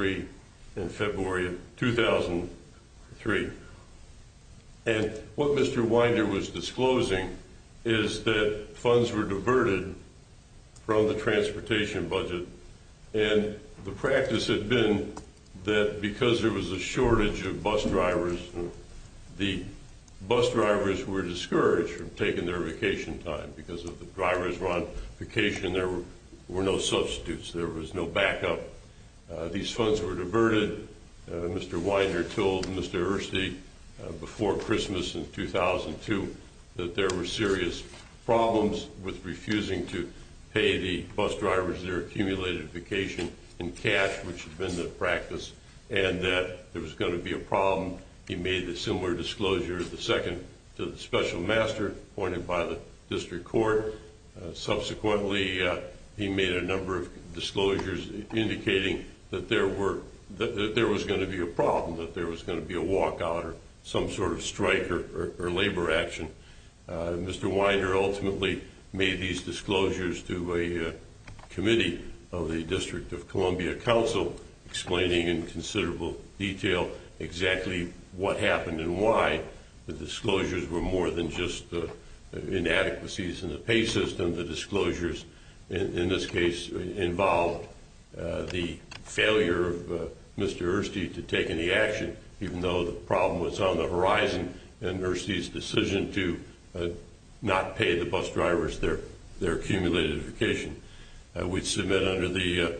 in February of 2003. And what Mr. Winder was disclosing is that funds were diverted from the transportation budget and the practice had been that because there was a shortage of bus drivers, the bus drivers were discouraged from taking their vacation time because if the drivers were on vacation there were no substitutes, there was no backup. These funds were diverted. Mr. Winder told Mr. Erste before Christmas in 2002 that there were serious problems with refusing to pay the bus drivers their accumulated vacation in cash, which had been the practice, and that there was going to be a problem. He made the similar disclosure the second to the special master appointed by the number of disclosures indicating that there was going to be a problem, that there was going to be a walkout or some sort of strike or labor action. Mr. Winder ultimately made these disclosures to a committee of the District of Columbia Council explaining in considerable detail exactly what happened and why the disclosures were more than just inadequacies in the pay system. The disclosures, in this case, involved the failure of Mr. Erste to take any action even though the problem was on the horizon in Erste's decision to not pay the bus drivers their accumulated vacation. We submit under the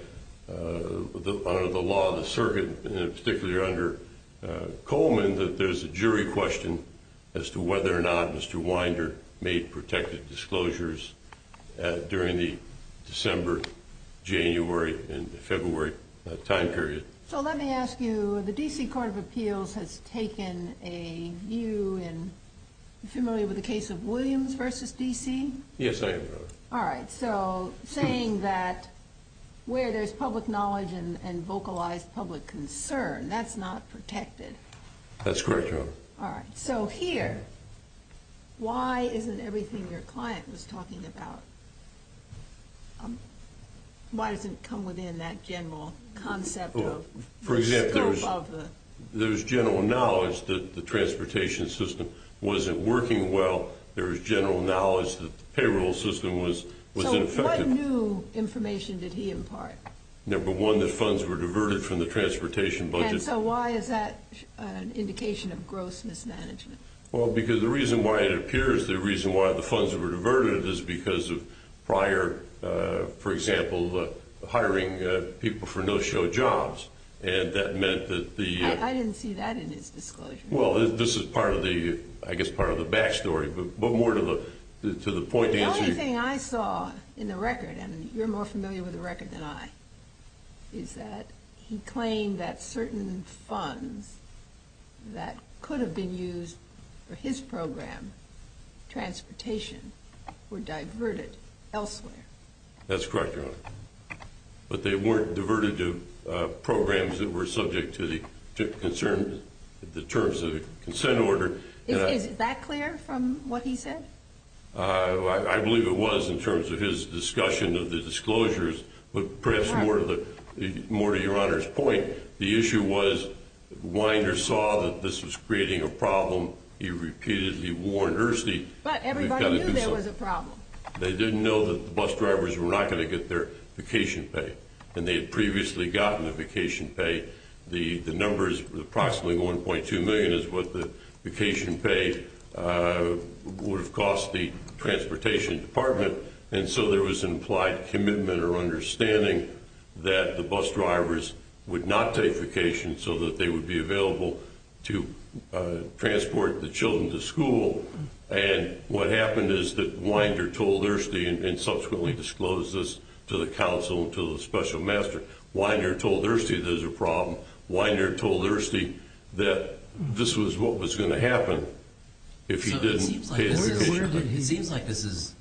law of the circuit, particularly under Coleman, that there's a jury question as to whether or not Mr. Winder made protected disclosures during the December, January, and February time period. So let me ask you, the D.C. Court of Appeals has taken a view in familiar with the case of Williams versus D.C.? Yes, I am. All right, so saying that where there's public knowledge and vocalized concern, that's not protected? That's correct, Your Honor. All right, so here, why isn't everything your client was talking about, why doesn't it come within that general concept? For example, there was general knowledge that the transportation system wasn't working well. There was general knowledge that the payroll system was ineffective. What new information did he impart? Number one, that funds were diverted from the transportation budget. So why is that an indication of gross mismanagement? Well, because the reason why it appears, the reason why the funds were diverted, is because of prior, for example, hiring people for no-show jobs, and that meant that the... I didn't see that in his disclosure. Well, this is part of the, I guess, part of the in the record, and you're more familiar with the record than I, is that he claimed that certain funds that could have been used for his program, transportation, were diverted elsewhere. That's correct, Your Honor. But they weren't diverted to programs that were subject to the terms of the consent order. Is that clear from what he said? I believe it was in terms of his discussion of the disclosures, but perhaps more of the, more to Your Honor's point, the issue was, Winder saw that this was creating a problem. He repeatedly warned Erste. But everybody knew there was a problem. They didn't know that the bus drivers were not going to get their vacation pay, and they had previously gotten the vacation pay. The numbers, approximately $1.2 million is what the vacation pay would have cost the Transportation Department. And so there was an implied commitment or understanding that the bus drivers would not take vacation so that they would be available to transport the children to school. And what happened is that Winder told Erste, and subsequently disclosed this to the council and to the special master, that Winder told Erste there's a problem. Winder told Erste that this was what was going to happen if he didn't pay the vacation pay. It seems like this is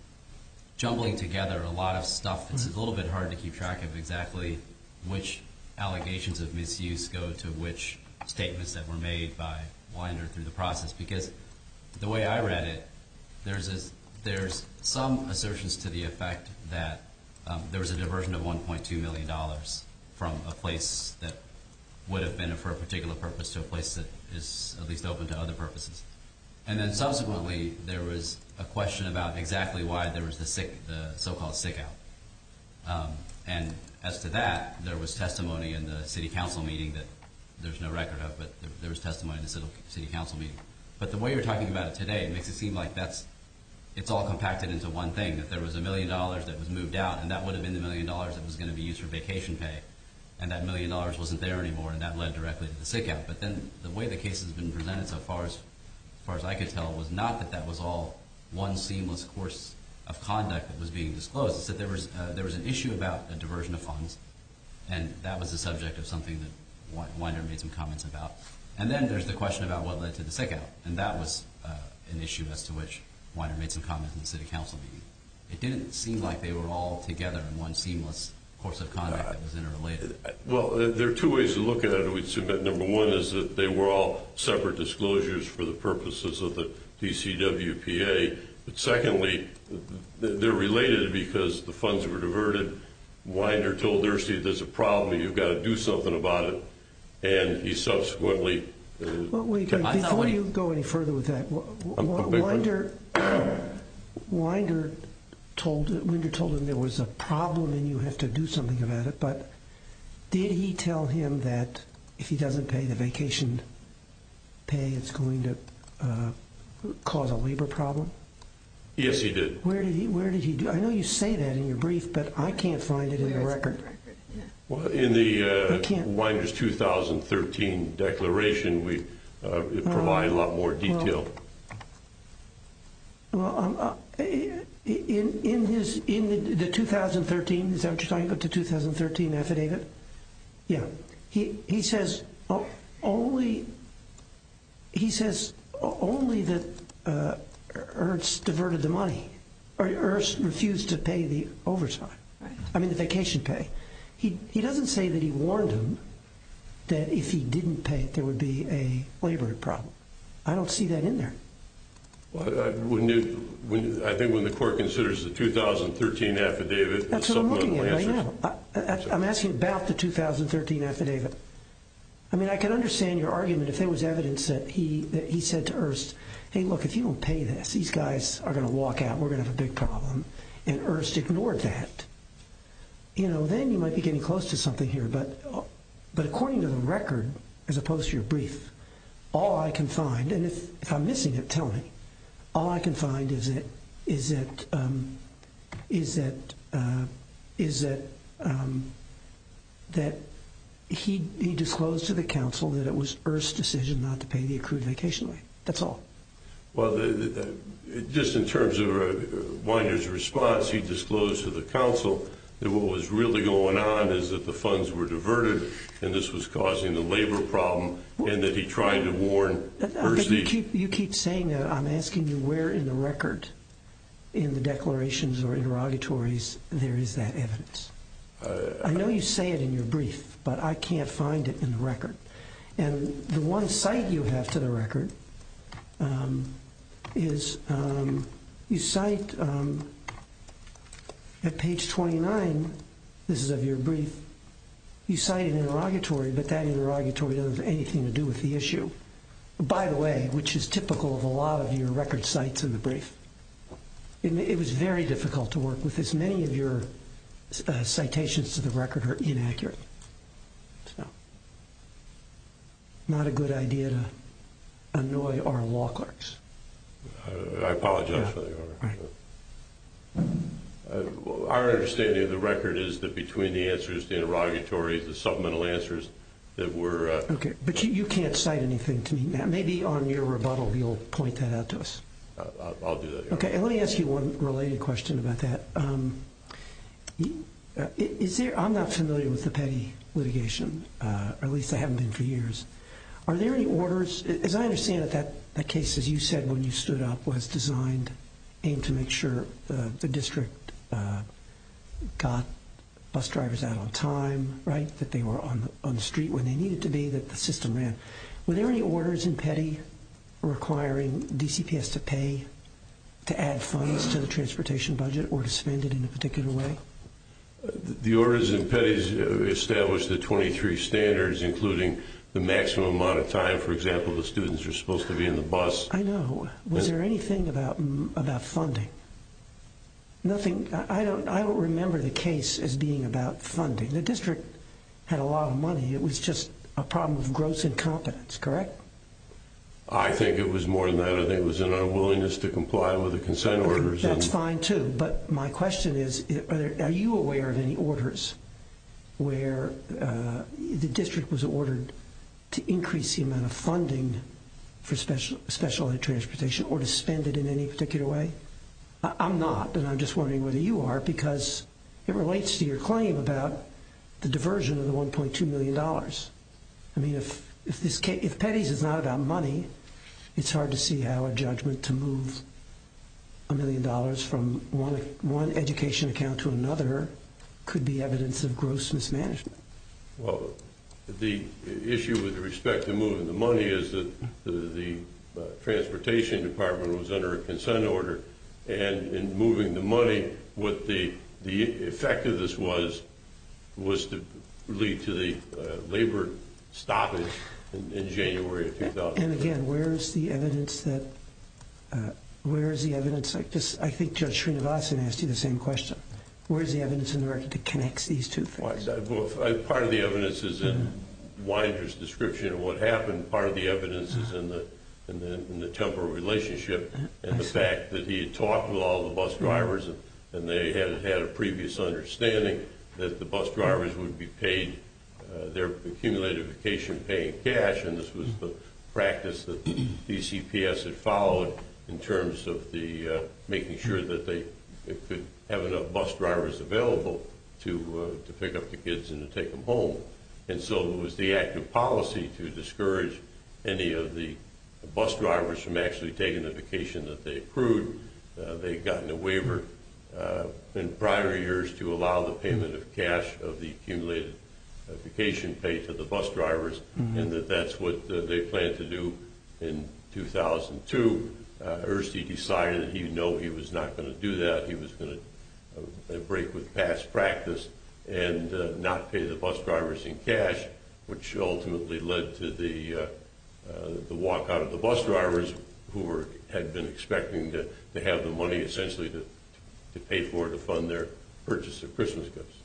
jumbling together a lot of stuff. It's a little bit hard to keep track of exactly which allegations of misuse go to which statements that were made by Winder through the process. Because the way I read it, there's some assertions to the effect that there was a diversion of $1.2 million. From a place that would have been for a particular purpose to a place that is at least open to other purposes. And then subsequently, there was a question about exactly why there was the so-called sick out. And as to that, there was testimony in the city council meeting that there's no record of, but there was testimony in the city council meeting. But the way you're talking about it today, it makes it seem like it's all compacted into one thing. That there was $1 million that was moved out, and that would have been the $1 million that was going to be used for vacation pay. And that $1 million wasn't there anymore, and that led directly to the sick out. But then the way the case has been presented so far, as far as I could tell, was not that that was all one seamless course of conduct that was being disclosed. It's that there was an issue about a diversion of funds, and that was the subject of something that Winder made some comments about. And then there's the question about what led to the sick out, and that was an issue as to which Winder made some comments in the city council meeting. It didn't seem like they were all together in one seamless course of conduct that was interrelated. Well, there are two ways to look at it, we'd submit. Number one is that they were all separate disclosures for the purposes of the DCWPA. But secondly, they're related because the funds were diverted. Winder told Darcy, there's a problem, you've got to do something about it. And he subsequently... Before you go any further with that, Winder told him there was a problem and you have to do something about it, but did he tell him that if he doesn't pay the vacation pay, it's going to cause a labor problem? Yes, he did. Where did he... I know you say that in your brief, but I can't find it in the record. Well, in the Winder's 2013 declaration, we provide a lot more detail. Well, in the 2013, is that what you're talking about, the 2013 affidavit? Yeah, he says only that Ernst diverted the money, or Ernst refused to pay the overtime, I mean the vacation pay. He doesn't say that he warned him that if he didn't pay it, there would be a labor problem. I don't see that in there. I think when the court considers the 2013 affidavit, that's one of the answers. I'm asking about the 2013 affidavit. I mean, I can understand your argument if there was evidence that he said to Ernst, hey, look, if you don't pay this, these guys are going to walk out, we're going to have a big problem, and Ernst ignored that. Then you might be getting close to something here, but according to the record, as opposed to your brief, all I can find, and if I'm missing it, tell me, all I can find is that he disclosed to the council that it was Ernst's decision not to pay the accrued vacation rate. That's all. Well, just in terms of Winder's response, he disclosed to the council that what was really going on is that the funds were diverted, and this was causing the labor problem, and that he tried to warn Ernst. You keep saying that. I'm asking you where in the record, in the declarations or interrogatories, there is that evidence. I know you say it in your brief, but I can't find it in the record. And the one cite you have to the record is you cite at page 29, this is of your brief, you cite an interrogatory, but that interrogatory doesn't have anything to do with the issue. By the way, which is typical of a lot of your record cites in the brief, it was very difficult to work with this. Many of your citations to the record are inaccurate. Not a good idea to annoy our law clerks. I apologize for that, Your Honor. Right. Well, our understanding of the record is that between the answers, the interrogatory, the supplemental answers that were- Okay. But you can't cite anything to me. Maybe on your rebuttal, you'll point that out to us. I'll do that, Your Honor. Okay. And let me ask you one related question about that. I'm not familiar with the petty litigation, or at least I haven't been for years. Are there any orders? As I understand it, that case, as you said, when you stood up, was designed, aimed to make sure the district got bus drivers out on time, right? That they were on the street when they needed to be, that the system ran. Were there any orders in petty requiring DCPS to pay, to add funds to the transportation budget, or to spend it in a particular way? The orders in petty established the 23 standards, including the maximum amount of time, for example, the students were supposed to be in the bus. I know. Was there anything about funding? Nothing. I don't remember the case as being about funding. The district had a lot of money. It was just a problem of gross incompetence, correct? I think it was more than that. I think it was an unwillingness to comply with the consent orders. That's fine, too. But my question is, are you aware of any orders where the district was ordered to increase the amount of funding for specialty transportation, or to spend it in any particular way? I'm not, and I'm just wondering whether you are, because it relates to your claim about the diversion of the $1.2 million. I mean, if petty is not about money, it's hard to see how a judgment to move a million dollars from one education account to another could be evidence of gross mismanagement. Well, the issue with respect to moving the money is that the Transportation Department was under a consent order, and in moving the money, what the effect of this was, was to lead to the labor stoppage in January of 2000. And again, where is the evidence that... Where is the evidence? I think Judge Srinivasan asked you the same question. Where is the evidence in the record that connects these two things? Part of the evidence is in Winder's description of what happened. Part of the evidence is in the temporal relationship, and the fact that he had talked with all the bus drivers, and they had a previous understanding that the bus drivers would be paid their accumulated vacation pay in cash, and this was the practice that DCPS had followed in terms of making sure that they could have enough bus drivers available to pick up the kids and to take them home. And so it was the act of policy to discourage any of the bus drivers from actually taking the vacation that they accrued. They'd gotten a waiver in prior years to allow the payment of cash of the accumulated vacation pay to the bus drivers, and that that's what they planned to do in 2002. Erste decided that he knew he was not going to do that. He was going to break with past practice and not pay the bus drivers in cash, which ultimately led to the walkout of the bus drivers who had been expecting to have the money essentially to pay for or to fund their purchase of Christmas gifts.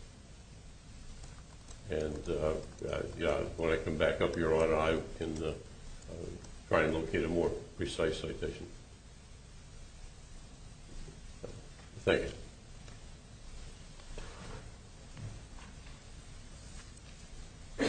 And yeah, when I come back up here on, I can try and locate a more precise citation. Thank you.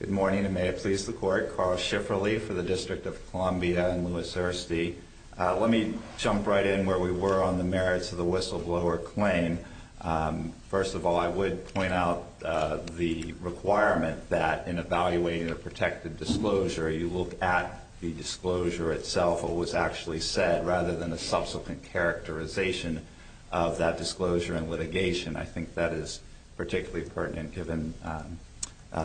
Good morning, and may it please the court. Carl Schifferle for the District of Columbia and Louis Erste. Let me jump right in where we were on the merits of the whistleblower claim. First of all, I would point out the requirement that in evaluating a protected disclosure, you look at the disclosure itself, what was actually said, rather than the subsequent characterization of that disclosure and litigation. I think that is particularly pertinent given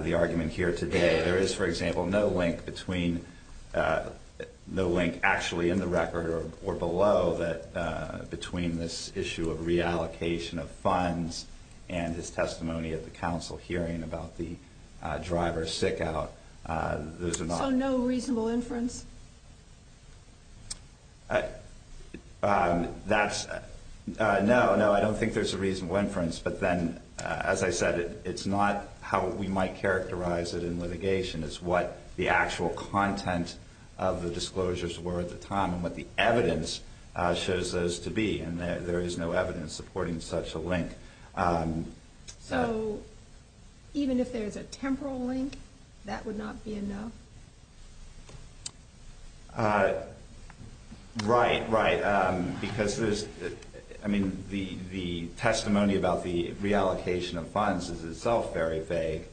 the argument here today. There is, for example, no link between, no link actually in the record or below that between this issue of reallocation of funds and his testimony at the council hearing about the driver's sick out. So no reasonable inference? No, no, I don't think there's a reasonable inference. But then, as I said, it's not how we might characterize it in litigation. It's what the actual content of the disclosures were at the time and what the evidence shows those to be. There is no evidence supporting such a link. So even if there is a temporal link, that would not be enough? Right, right, because there's, I mean, the testimony about the reallocation of funds is itself very vague.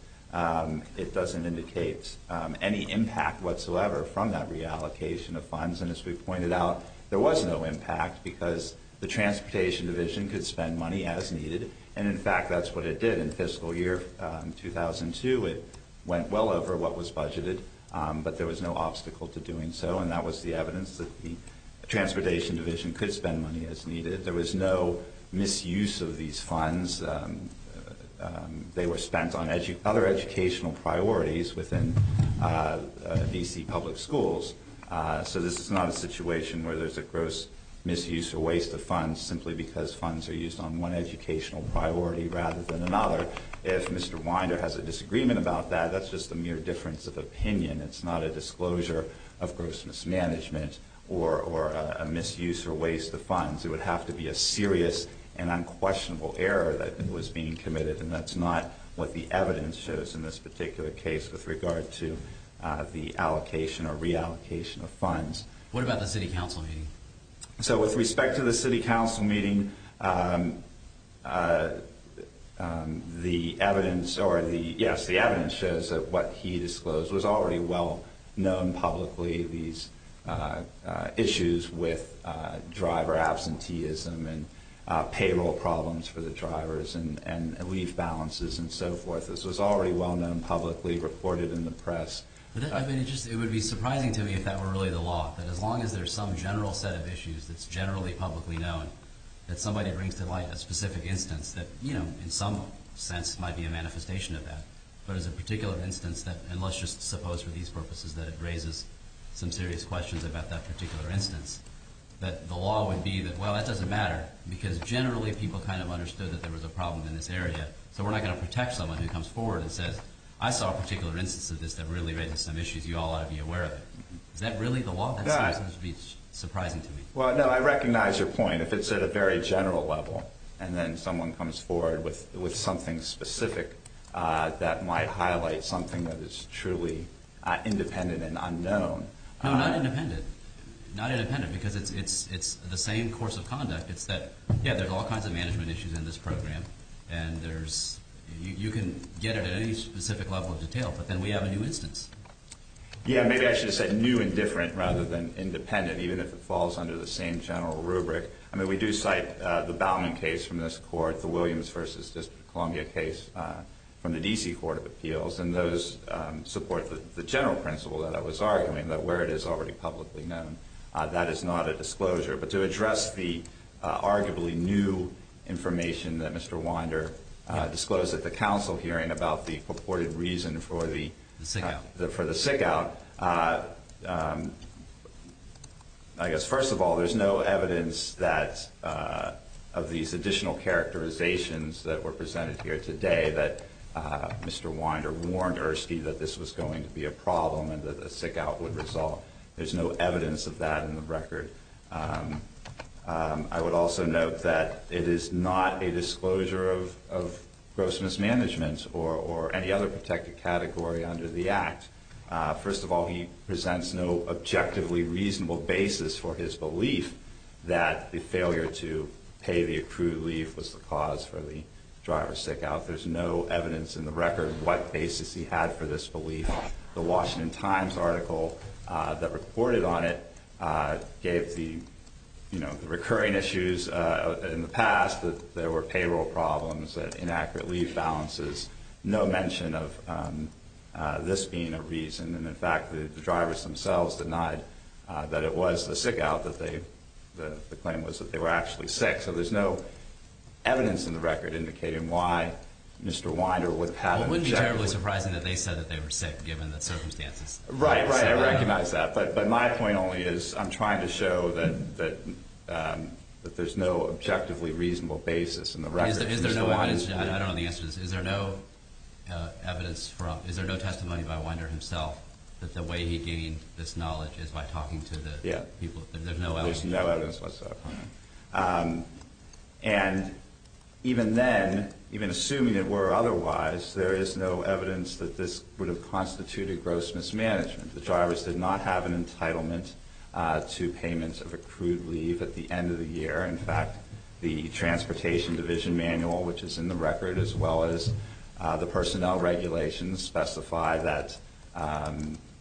It doesn't indicate any impact whatsoever from that reallocation of funds. And as we pointed out, there was no impact, because the Transportation Division could spend money as needed. And in fact, that's what it did in fiscal year 2002. It went well over what was budgeted, but there was no obstacle to doing so. And that was the evidence that the Transportation Division could spend money as needed. There was no misuse of these funds. They were spent on other educational priorities within DC public schools. So this is not a situation where there's a gross misuse or waste of funds simply because funds are used on one educational priority rather than another. If Mr. Winder has a disagreement about that, that's just a mere difference of opinion. It's not a disclosure of gross mismanagement or a misuse or waste of funds. It would have to be a serious and unquestionable error that was being committed. And that's not what the evidence shows in this particular case with regard to the allocation or reallocation of funds. What about the City Council meeting? So with respect to the City Council meeting, yes, the evidence shows that what he disclosed was already well known publicly. These issues with driver absenteeism and payroll problems for the drivers and leave balances and so forth. This was already well known publicly reported in the press. It would be surprising to me if that were really the law, that as long as there's some general set of issues that's generally publicly known, that somebody brings to light a specific instance that, you know, in some sense might be a manifestation of that. But as a particular instance that, and let's just suppose for these purposes that it raises some serious questions about that particular instance, that the law would be that, well, that doesn't matter because generally people kind of understood that there was a problem in this area. So we're not going to protect someone who comes forward and says, I saw a particular instance of this that really raised some issues you all ought to be aware of. Is that really the law? That seems to be surprising to me. Well, no, I recognize your point if it's at a very general level and then someone comes forward with something specific that might highlight something that is truly independent and unknown. No, not independent. Not independent because it's the same course of conduct. It's that, yeah, there's all kinds of management issues in this program and there's, you can get it at any specific level of detail, but then we have a new instance. Yeah, maybe I should have said new and different rather than independent, even if it falls under the same general rubric. I mean, we do cite the Bowman case from this court, the Williams versus District of Columbia case from the DC Court of Appeals and those support the general principle that I was arguing that where it is already publicly known, that is not a disclosure. But to address the arguably new information that Mr. Wynder disclosed at the council hearing about the purported reason for the sick out, I guess, first of all, there's no evidence that of these additional characterizations that were presented here today that Mr. Wynder warned Erskine that this was going to be a problem and that a sick out would resolve. There's no evidence of that in the record. I would also note that it is not a disclosure of gross mismanagement or any other protected category under the act. First of all, he presents no objectively reasonable basis for his belief that the failure to pay the accrued leave was the cause for the driver's sick out. There's no evidence in the record what basis he had for this belief. The Washington Times article that reported on it gave the recurring issues in the past, that there were payroll problems, that inaccurate leave balances, no mention of this being a reason. And in fact, the drivers themselves denied that it was the sick out that the claim was that they were actually sick. So there's no evidence in the record indicating why Mr. Wynder would have had an objective. It wouldn't be terribly surprising that they said that they were sick given the circumstances. Right, right. I recognize that. But my point only is, I'm trying to show that there's no objectively reasonable basis in the record. Is there no evidence? I don't know the answer to this. Is there no evidence from, is there no testimony by Wynder himself that the way he gained this knowledge is by talking to the people? There's no evidence. There's no evidence whatsoever. And even then, even assuming it were otherwise, there is no evidence that this would have constituted gross mismanagement. The drivers did not have an entitlement to payments of accrued leave at the end of the year. In fact, the transportation division manual, which is in the record, as well as the personnel regulations, specify that.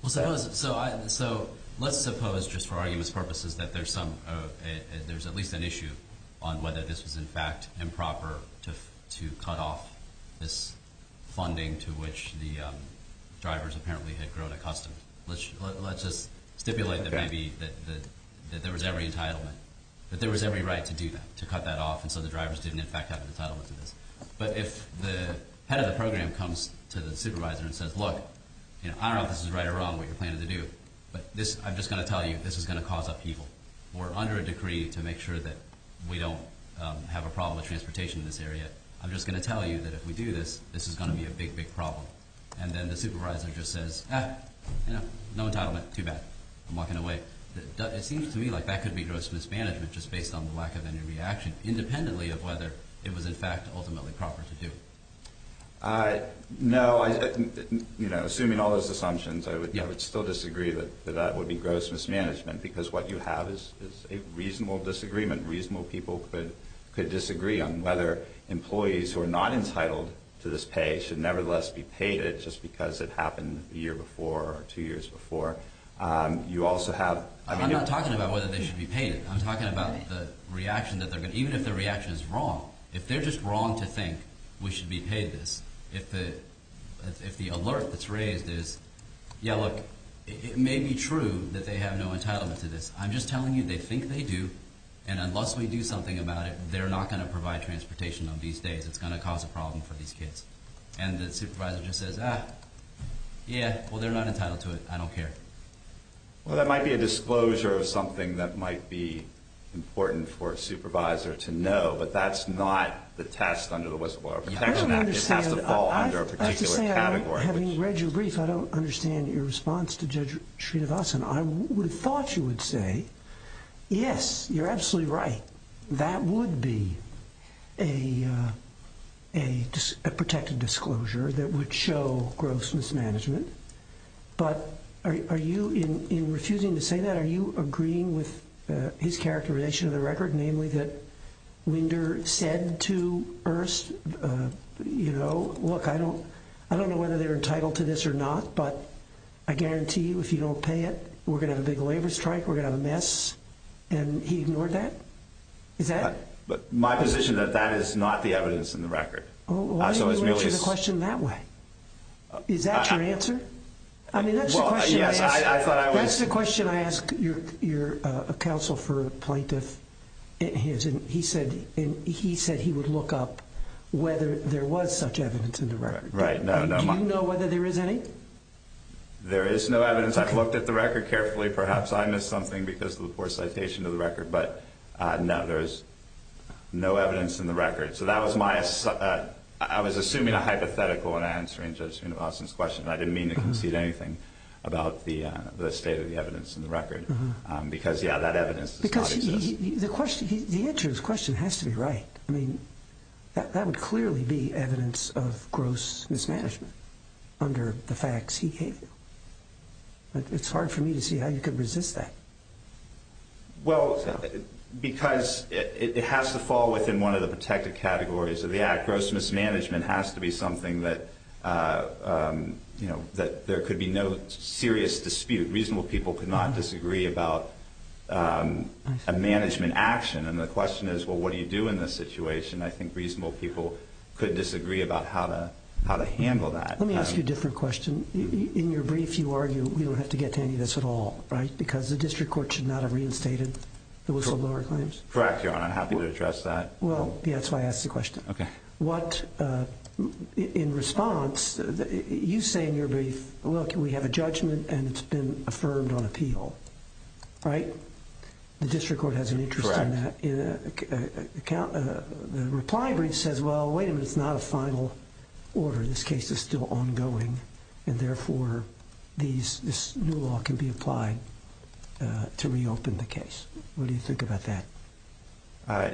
So let's suppose, just for arguments purposes, that there's some, there's at least an issue on whether this was in fact improper to cut off this funding to which the drivers apparently had grown accustomed. Let's just stipulate that maybe that there was every entitlement, that there was every right to do that, to cut that off, and so the drivers didn't in fact have an entitlement to this. But if the head of the program comes to the supervisor and says, look, I don't know if this is right or wrong, what you're planning to do, but this, I'm just going to tell you, this is going to cause upheaval. We're under a decree to make sure that we don't have a problem with transportation in this area. I'm just going to tell you that if we do this, this is going to be a big, big problem. And then the supervisor just says, ah, you know, no entitlement, too bad. I'm walking away. It seems to me like that could be gross mismanagement just based on the lack of any reaction, independently of whether it was in fact ultimately proper to do. I, no, I, you know, assuming all those assumptions, I would still disagree that that would be gross mismanagement because what you have is a reasonable disagreement. Reasonable people could disagree on whether employees who are not entitled to this pay should nevertheless be paid it just because it happened a year before or two years before. You also have, I mean- I'm not talking about whether they should be paid it. I'm talking about the reaction that they're going to, even if the reaction is wrong, if they're just wrong to think we should be paid this, if the alert that's raised is, yeah, look, it may be true that they have no entitlement to this. I'm just telling you they think they do. And unless we do something about it, they're not going to provide transportation on these days. It's going to cause a problem for these kids. And the supervisor just says, ah, yeah, well, they're not entitled to it. I don't care. Well, that might be a disclosure of something that might be important for a supervisor to know, but that's not the test under the whistleblower protection act. It has to fall under a particular category. Having read your brief, I don't understand your response to Judge Srinivasan. I would have thought you would say, yes, you're absolutely right. That would be a protected disclosure that would show gross mismanagement. But are you, in refusing to say that, are you agreeing with his characterization of the record, namely that Winder said to Erst, you know, look, I don't know whether they're entitled to this or not, but I guarantee you, if you don't pay it, we're going to have a big labor strike. We're going to have a mess. And he ignored that? Is that? But my position is that that is not the evidence in the record. Well, why didn't you answer the question that way? Is that your answer? I mean, that's the question I asked your counsel for a plaintiff, and he said he would look up whether there was such evidence in the record. Right, no, no. Do you know whether there is any? There is no evidence. I've looked at the record carefully. Perhaps I missed something because of the poor citation of the record. But no, there is no evidence in the record. So that was my, I was assuming a hypothetical in answering Judge Srinivasan's question. I didn't mean to concede anything about the state of the evidence in the record because yeah, that evidence does not exist. The question, the answer to this question has to be right. I mean, that would clearly be evidence of gross mismanagement under the facts he gave you. But it's hard for me to see how you could resist that. Well, because it has to fall within one of the protected categories of the act. Gross mismanagement has to be something that, you know, that there could be no serious dispute. Reasonable people could not disagree about a management action. And the question is, well, what do you do in this situation? I think reasonable people could disagree about how to handle that. Let me ask you a different question. In your brief, you argue we don't have to get to any of this at all, right? Because the district court should not have reinstated the whistleblower claims. Correct, Your Honor. I'm happy to address that. Well, yeah, that's why I asked the question. Okay. What, in response, you say in your brief, look, we have a judgment and it's been affirmed on appeal, right? The district court has an interest in that. The reply brief says, well, wait a minute. It's not a final order. This case is still ongoing. And therefore, this new law can be applied to reopen the case. What do you think about that?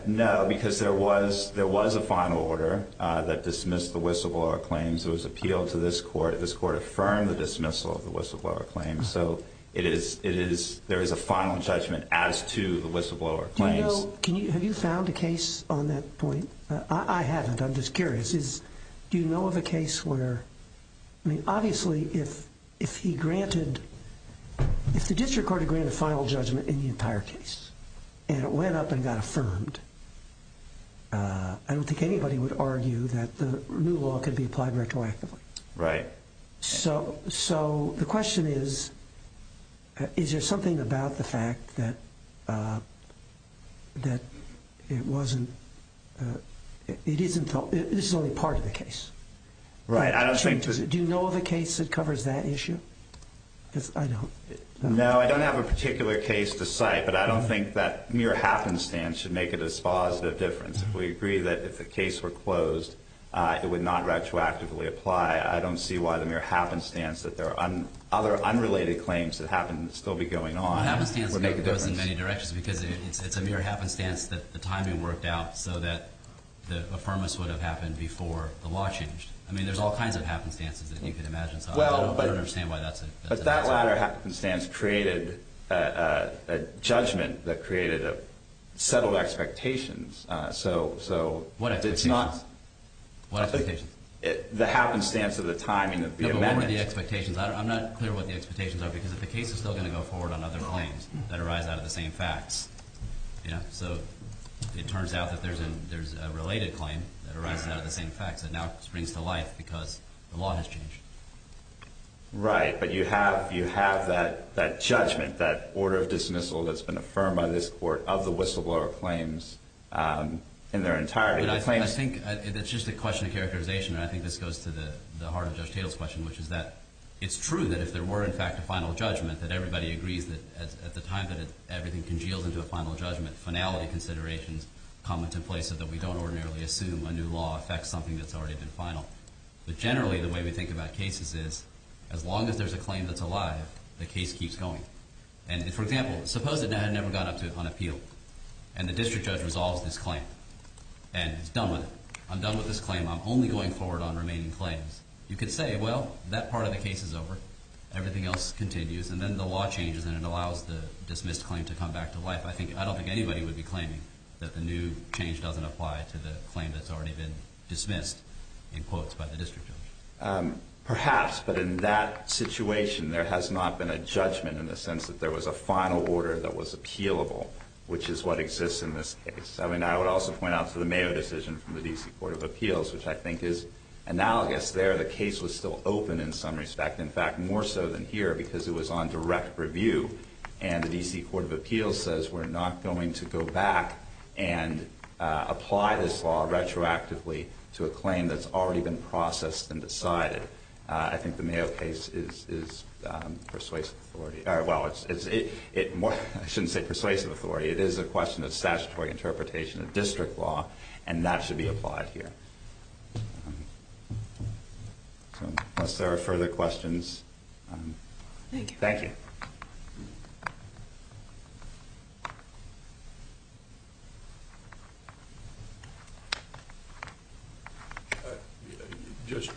No, because there was a final order that dismissed the whistleblower claims. It was appealed to this court. This court affirmed the dismissal of the whistleblower claims. So there is a final judgment as to the whistleblower claims. Have you found a case on that point? I haven't. I'm just curious. Do you know of a case where, I mean, obviously, if the district court had granted a final judgment in the entire case and it went up and got affirmed, I don't think anybody would argue that the new law could be applied retroactively. Right. So the question is, is there something about the fact that it wasn't, it isn't, this is only part of the case. Right, I don't think. Do you know of a case that covers that issue? Because I don't. No, I don't have a particular case to cite. But I don't think that mere happenstance should make a dispositive difference. If we agree that if the case were closed, it would not retroactively apply. I don't see why the mere happenstance that there are other unrelated claims that still be going on. I don't think the mere happenstance goes in many directions because it's a mere happenstance that the timing worked out so that the affirmance would have happened before the law changed. I mean, there's all kinds of happenstances that you could imagine. So I don't understand why that's a. But that latter happenstance created a judgment that created a settled expectations. So it's not. What expectations? The happenstance of the timing. No, but what are the expectations? I'm not clear what the expectations are because if the case is still going to go forward on other claims that arise out of the same facts. So it turns out that there's a related claim that arises out of the same facts that now springs to life because the law has changed. Right. But you have that judgment, that order of dismissal that's been affirmed by this court of the whistleblower claims in their entirety. I think that's just a question of characterization. And I think this goes to the heart of Judge Tatel's question, which is that it's true that if there were in fact a final judgment that everybody agrees that at the time that everything congeals into a final judgment, finality considerations come into play so that we don't ordinarily assume a new law affects something that's already been final. But generally the way we think about cases is as long as there's a claim that's alive, the case keeps going. And for example, suppose it had never gone up to an appeal and the district judge resolves this claim and it's done with it. I'm done with this claim. I'm only going forward on remaining claims. You could say, well, that part of the case is over. Everything else continues. And then the law changes and it allows the dismissed claim to come back to life. I think I don't think anybody would be claiming that the new change doesn't apply to the claim that's already been dismissed in quotes by the district judge. Perhaps. But in that situation, there has not been a judgment in the sense that there was a final order that was appealable, which is what exists in this case. I mean, I would also point out to the Mayo decision from the D.C. Court of Appeals, which I think is analogous there. The case was still open in some respect. In fact, more so than here because it was on direct review and the D.C. Court of Appeals says we're not going to go back and apply this law retroactively to a claim that's already been processed and decided. I think the Mayo case is persuasive authority. Well, I shouldn't say persuasive authority. It is a question of statutory interpretation of district law and that should be applied here. Unless there are further questions. Thank you.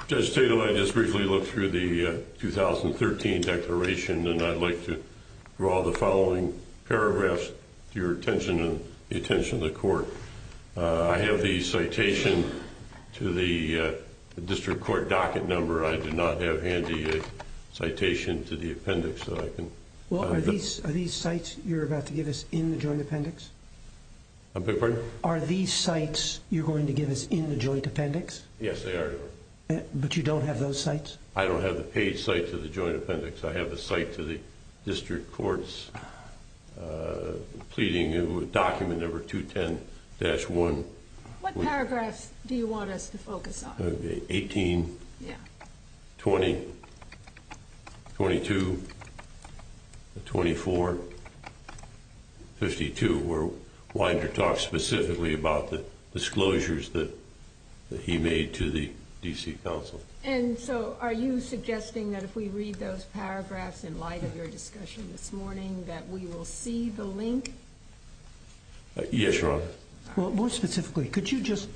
Judge Tatum, I just briefly looked through the 2013 declaration and I'd like to draw the following paragraphs to your attention and the attention of the court. I have the citation to the district court docket number. I do not have handy citation to the appendix that I can. Well, are these are these sites you're about to give us in the joint appendix? I beg your pardon? Are these sites you're going to give us in the joint appendix? Yes, they are. But you don't have those sites? I don't have the page site to the joint appendix. I have the site to the district courts pleading document number 210-1. What paragraphs do you want us to focus on? 18, 20, 22, 24, 52 where Winder talks specifically about the disclosures that he made to the D.C. Council. And so are you suggesting that if we read those paragraphs in light of your discussion this morning that we will see the link? Yes, Your Honor. Well, more specifically, could you just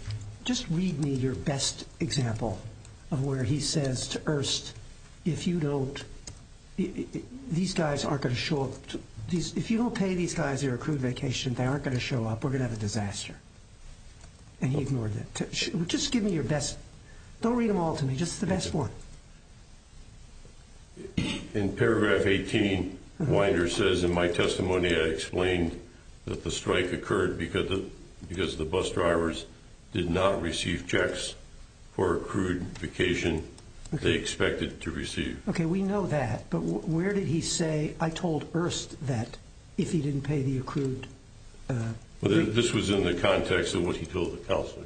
read me your best example of where he says to erst if you don't, these guys aren't going to show up. If you don't pay these guys their accrued vacation, they aren't going to show up. We're going to have a disaster. And he ignored that. Just give me your best. Don't read them all to me. Just the best one. In paragraph 18, Winder says in my testimony, I explained that the strike occurred because the bus drivers did not receive checks for accrued vacation they expected to receive. Okay, we know that. But where did he say, I told erst that if he didn't pay the accrued? Well, this was in the context of what he told the council.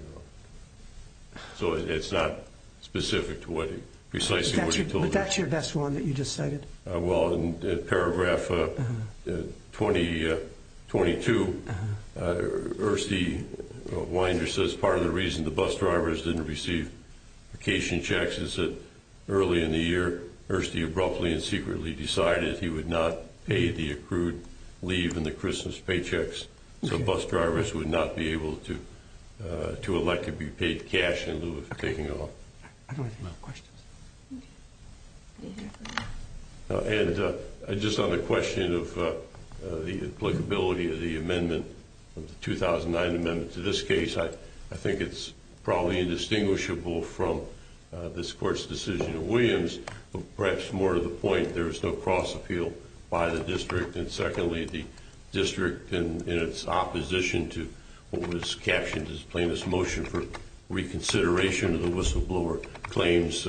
So it's not specific to what he precisely told us. That's your best one that you just cited. Well, in paragraph 20, 22, Erste Winder says, part of the reason the bus drivers didn't receive vacation checks is that early in the year, Erste abruptly and secretly decided he would not pay the accrued leave and the Christmas paychecks. So bus drivers would not be able to elect to be paid cash in lieu of taking off. And just on the question of the applicability of the amendment of the 2009 amendment to this case, I think it's probably indistinguishable from this court's decision of Williams, but perhaps more to the point, there was no cross appeal by the district. And secondly, the district in its opposition to what was captioned as plaintiff's motion of the whistleblower claims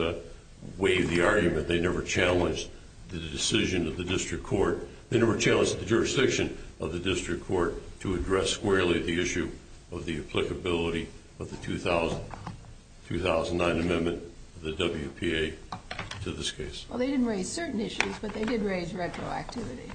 waived the argument. They never challenged the decision of the district court. They never challenged the jurisdiction of the district court to address squarely the issue of the applicability of the 2000 2009 amendment of the WPA to this case. Well, they didn't raise certain issues, but they did raise retroactivity.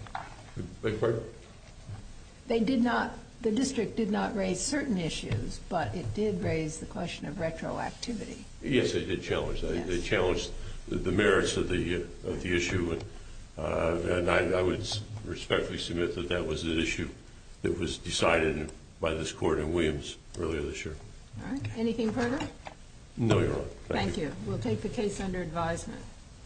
They did not. The district did not raise certain issues, but it did raise the question of retroactivity. Yes, they did challenge. They challenged the merits of the of the issue. And I would respectfully submit that that was an issue that was decided by this court in Williams earlier this year. All right. Anything further? No, you're right. Thank you. We'll take the case under advisement.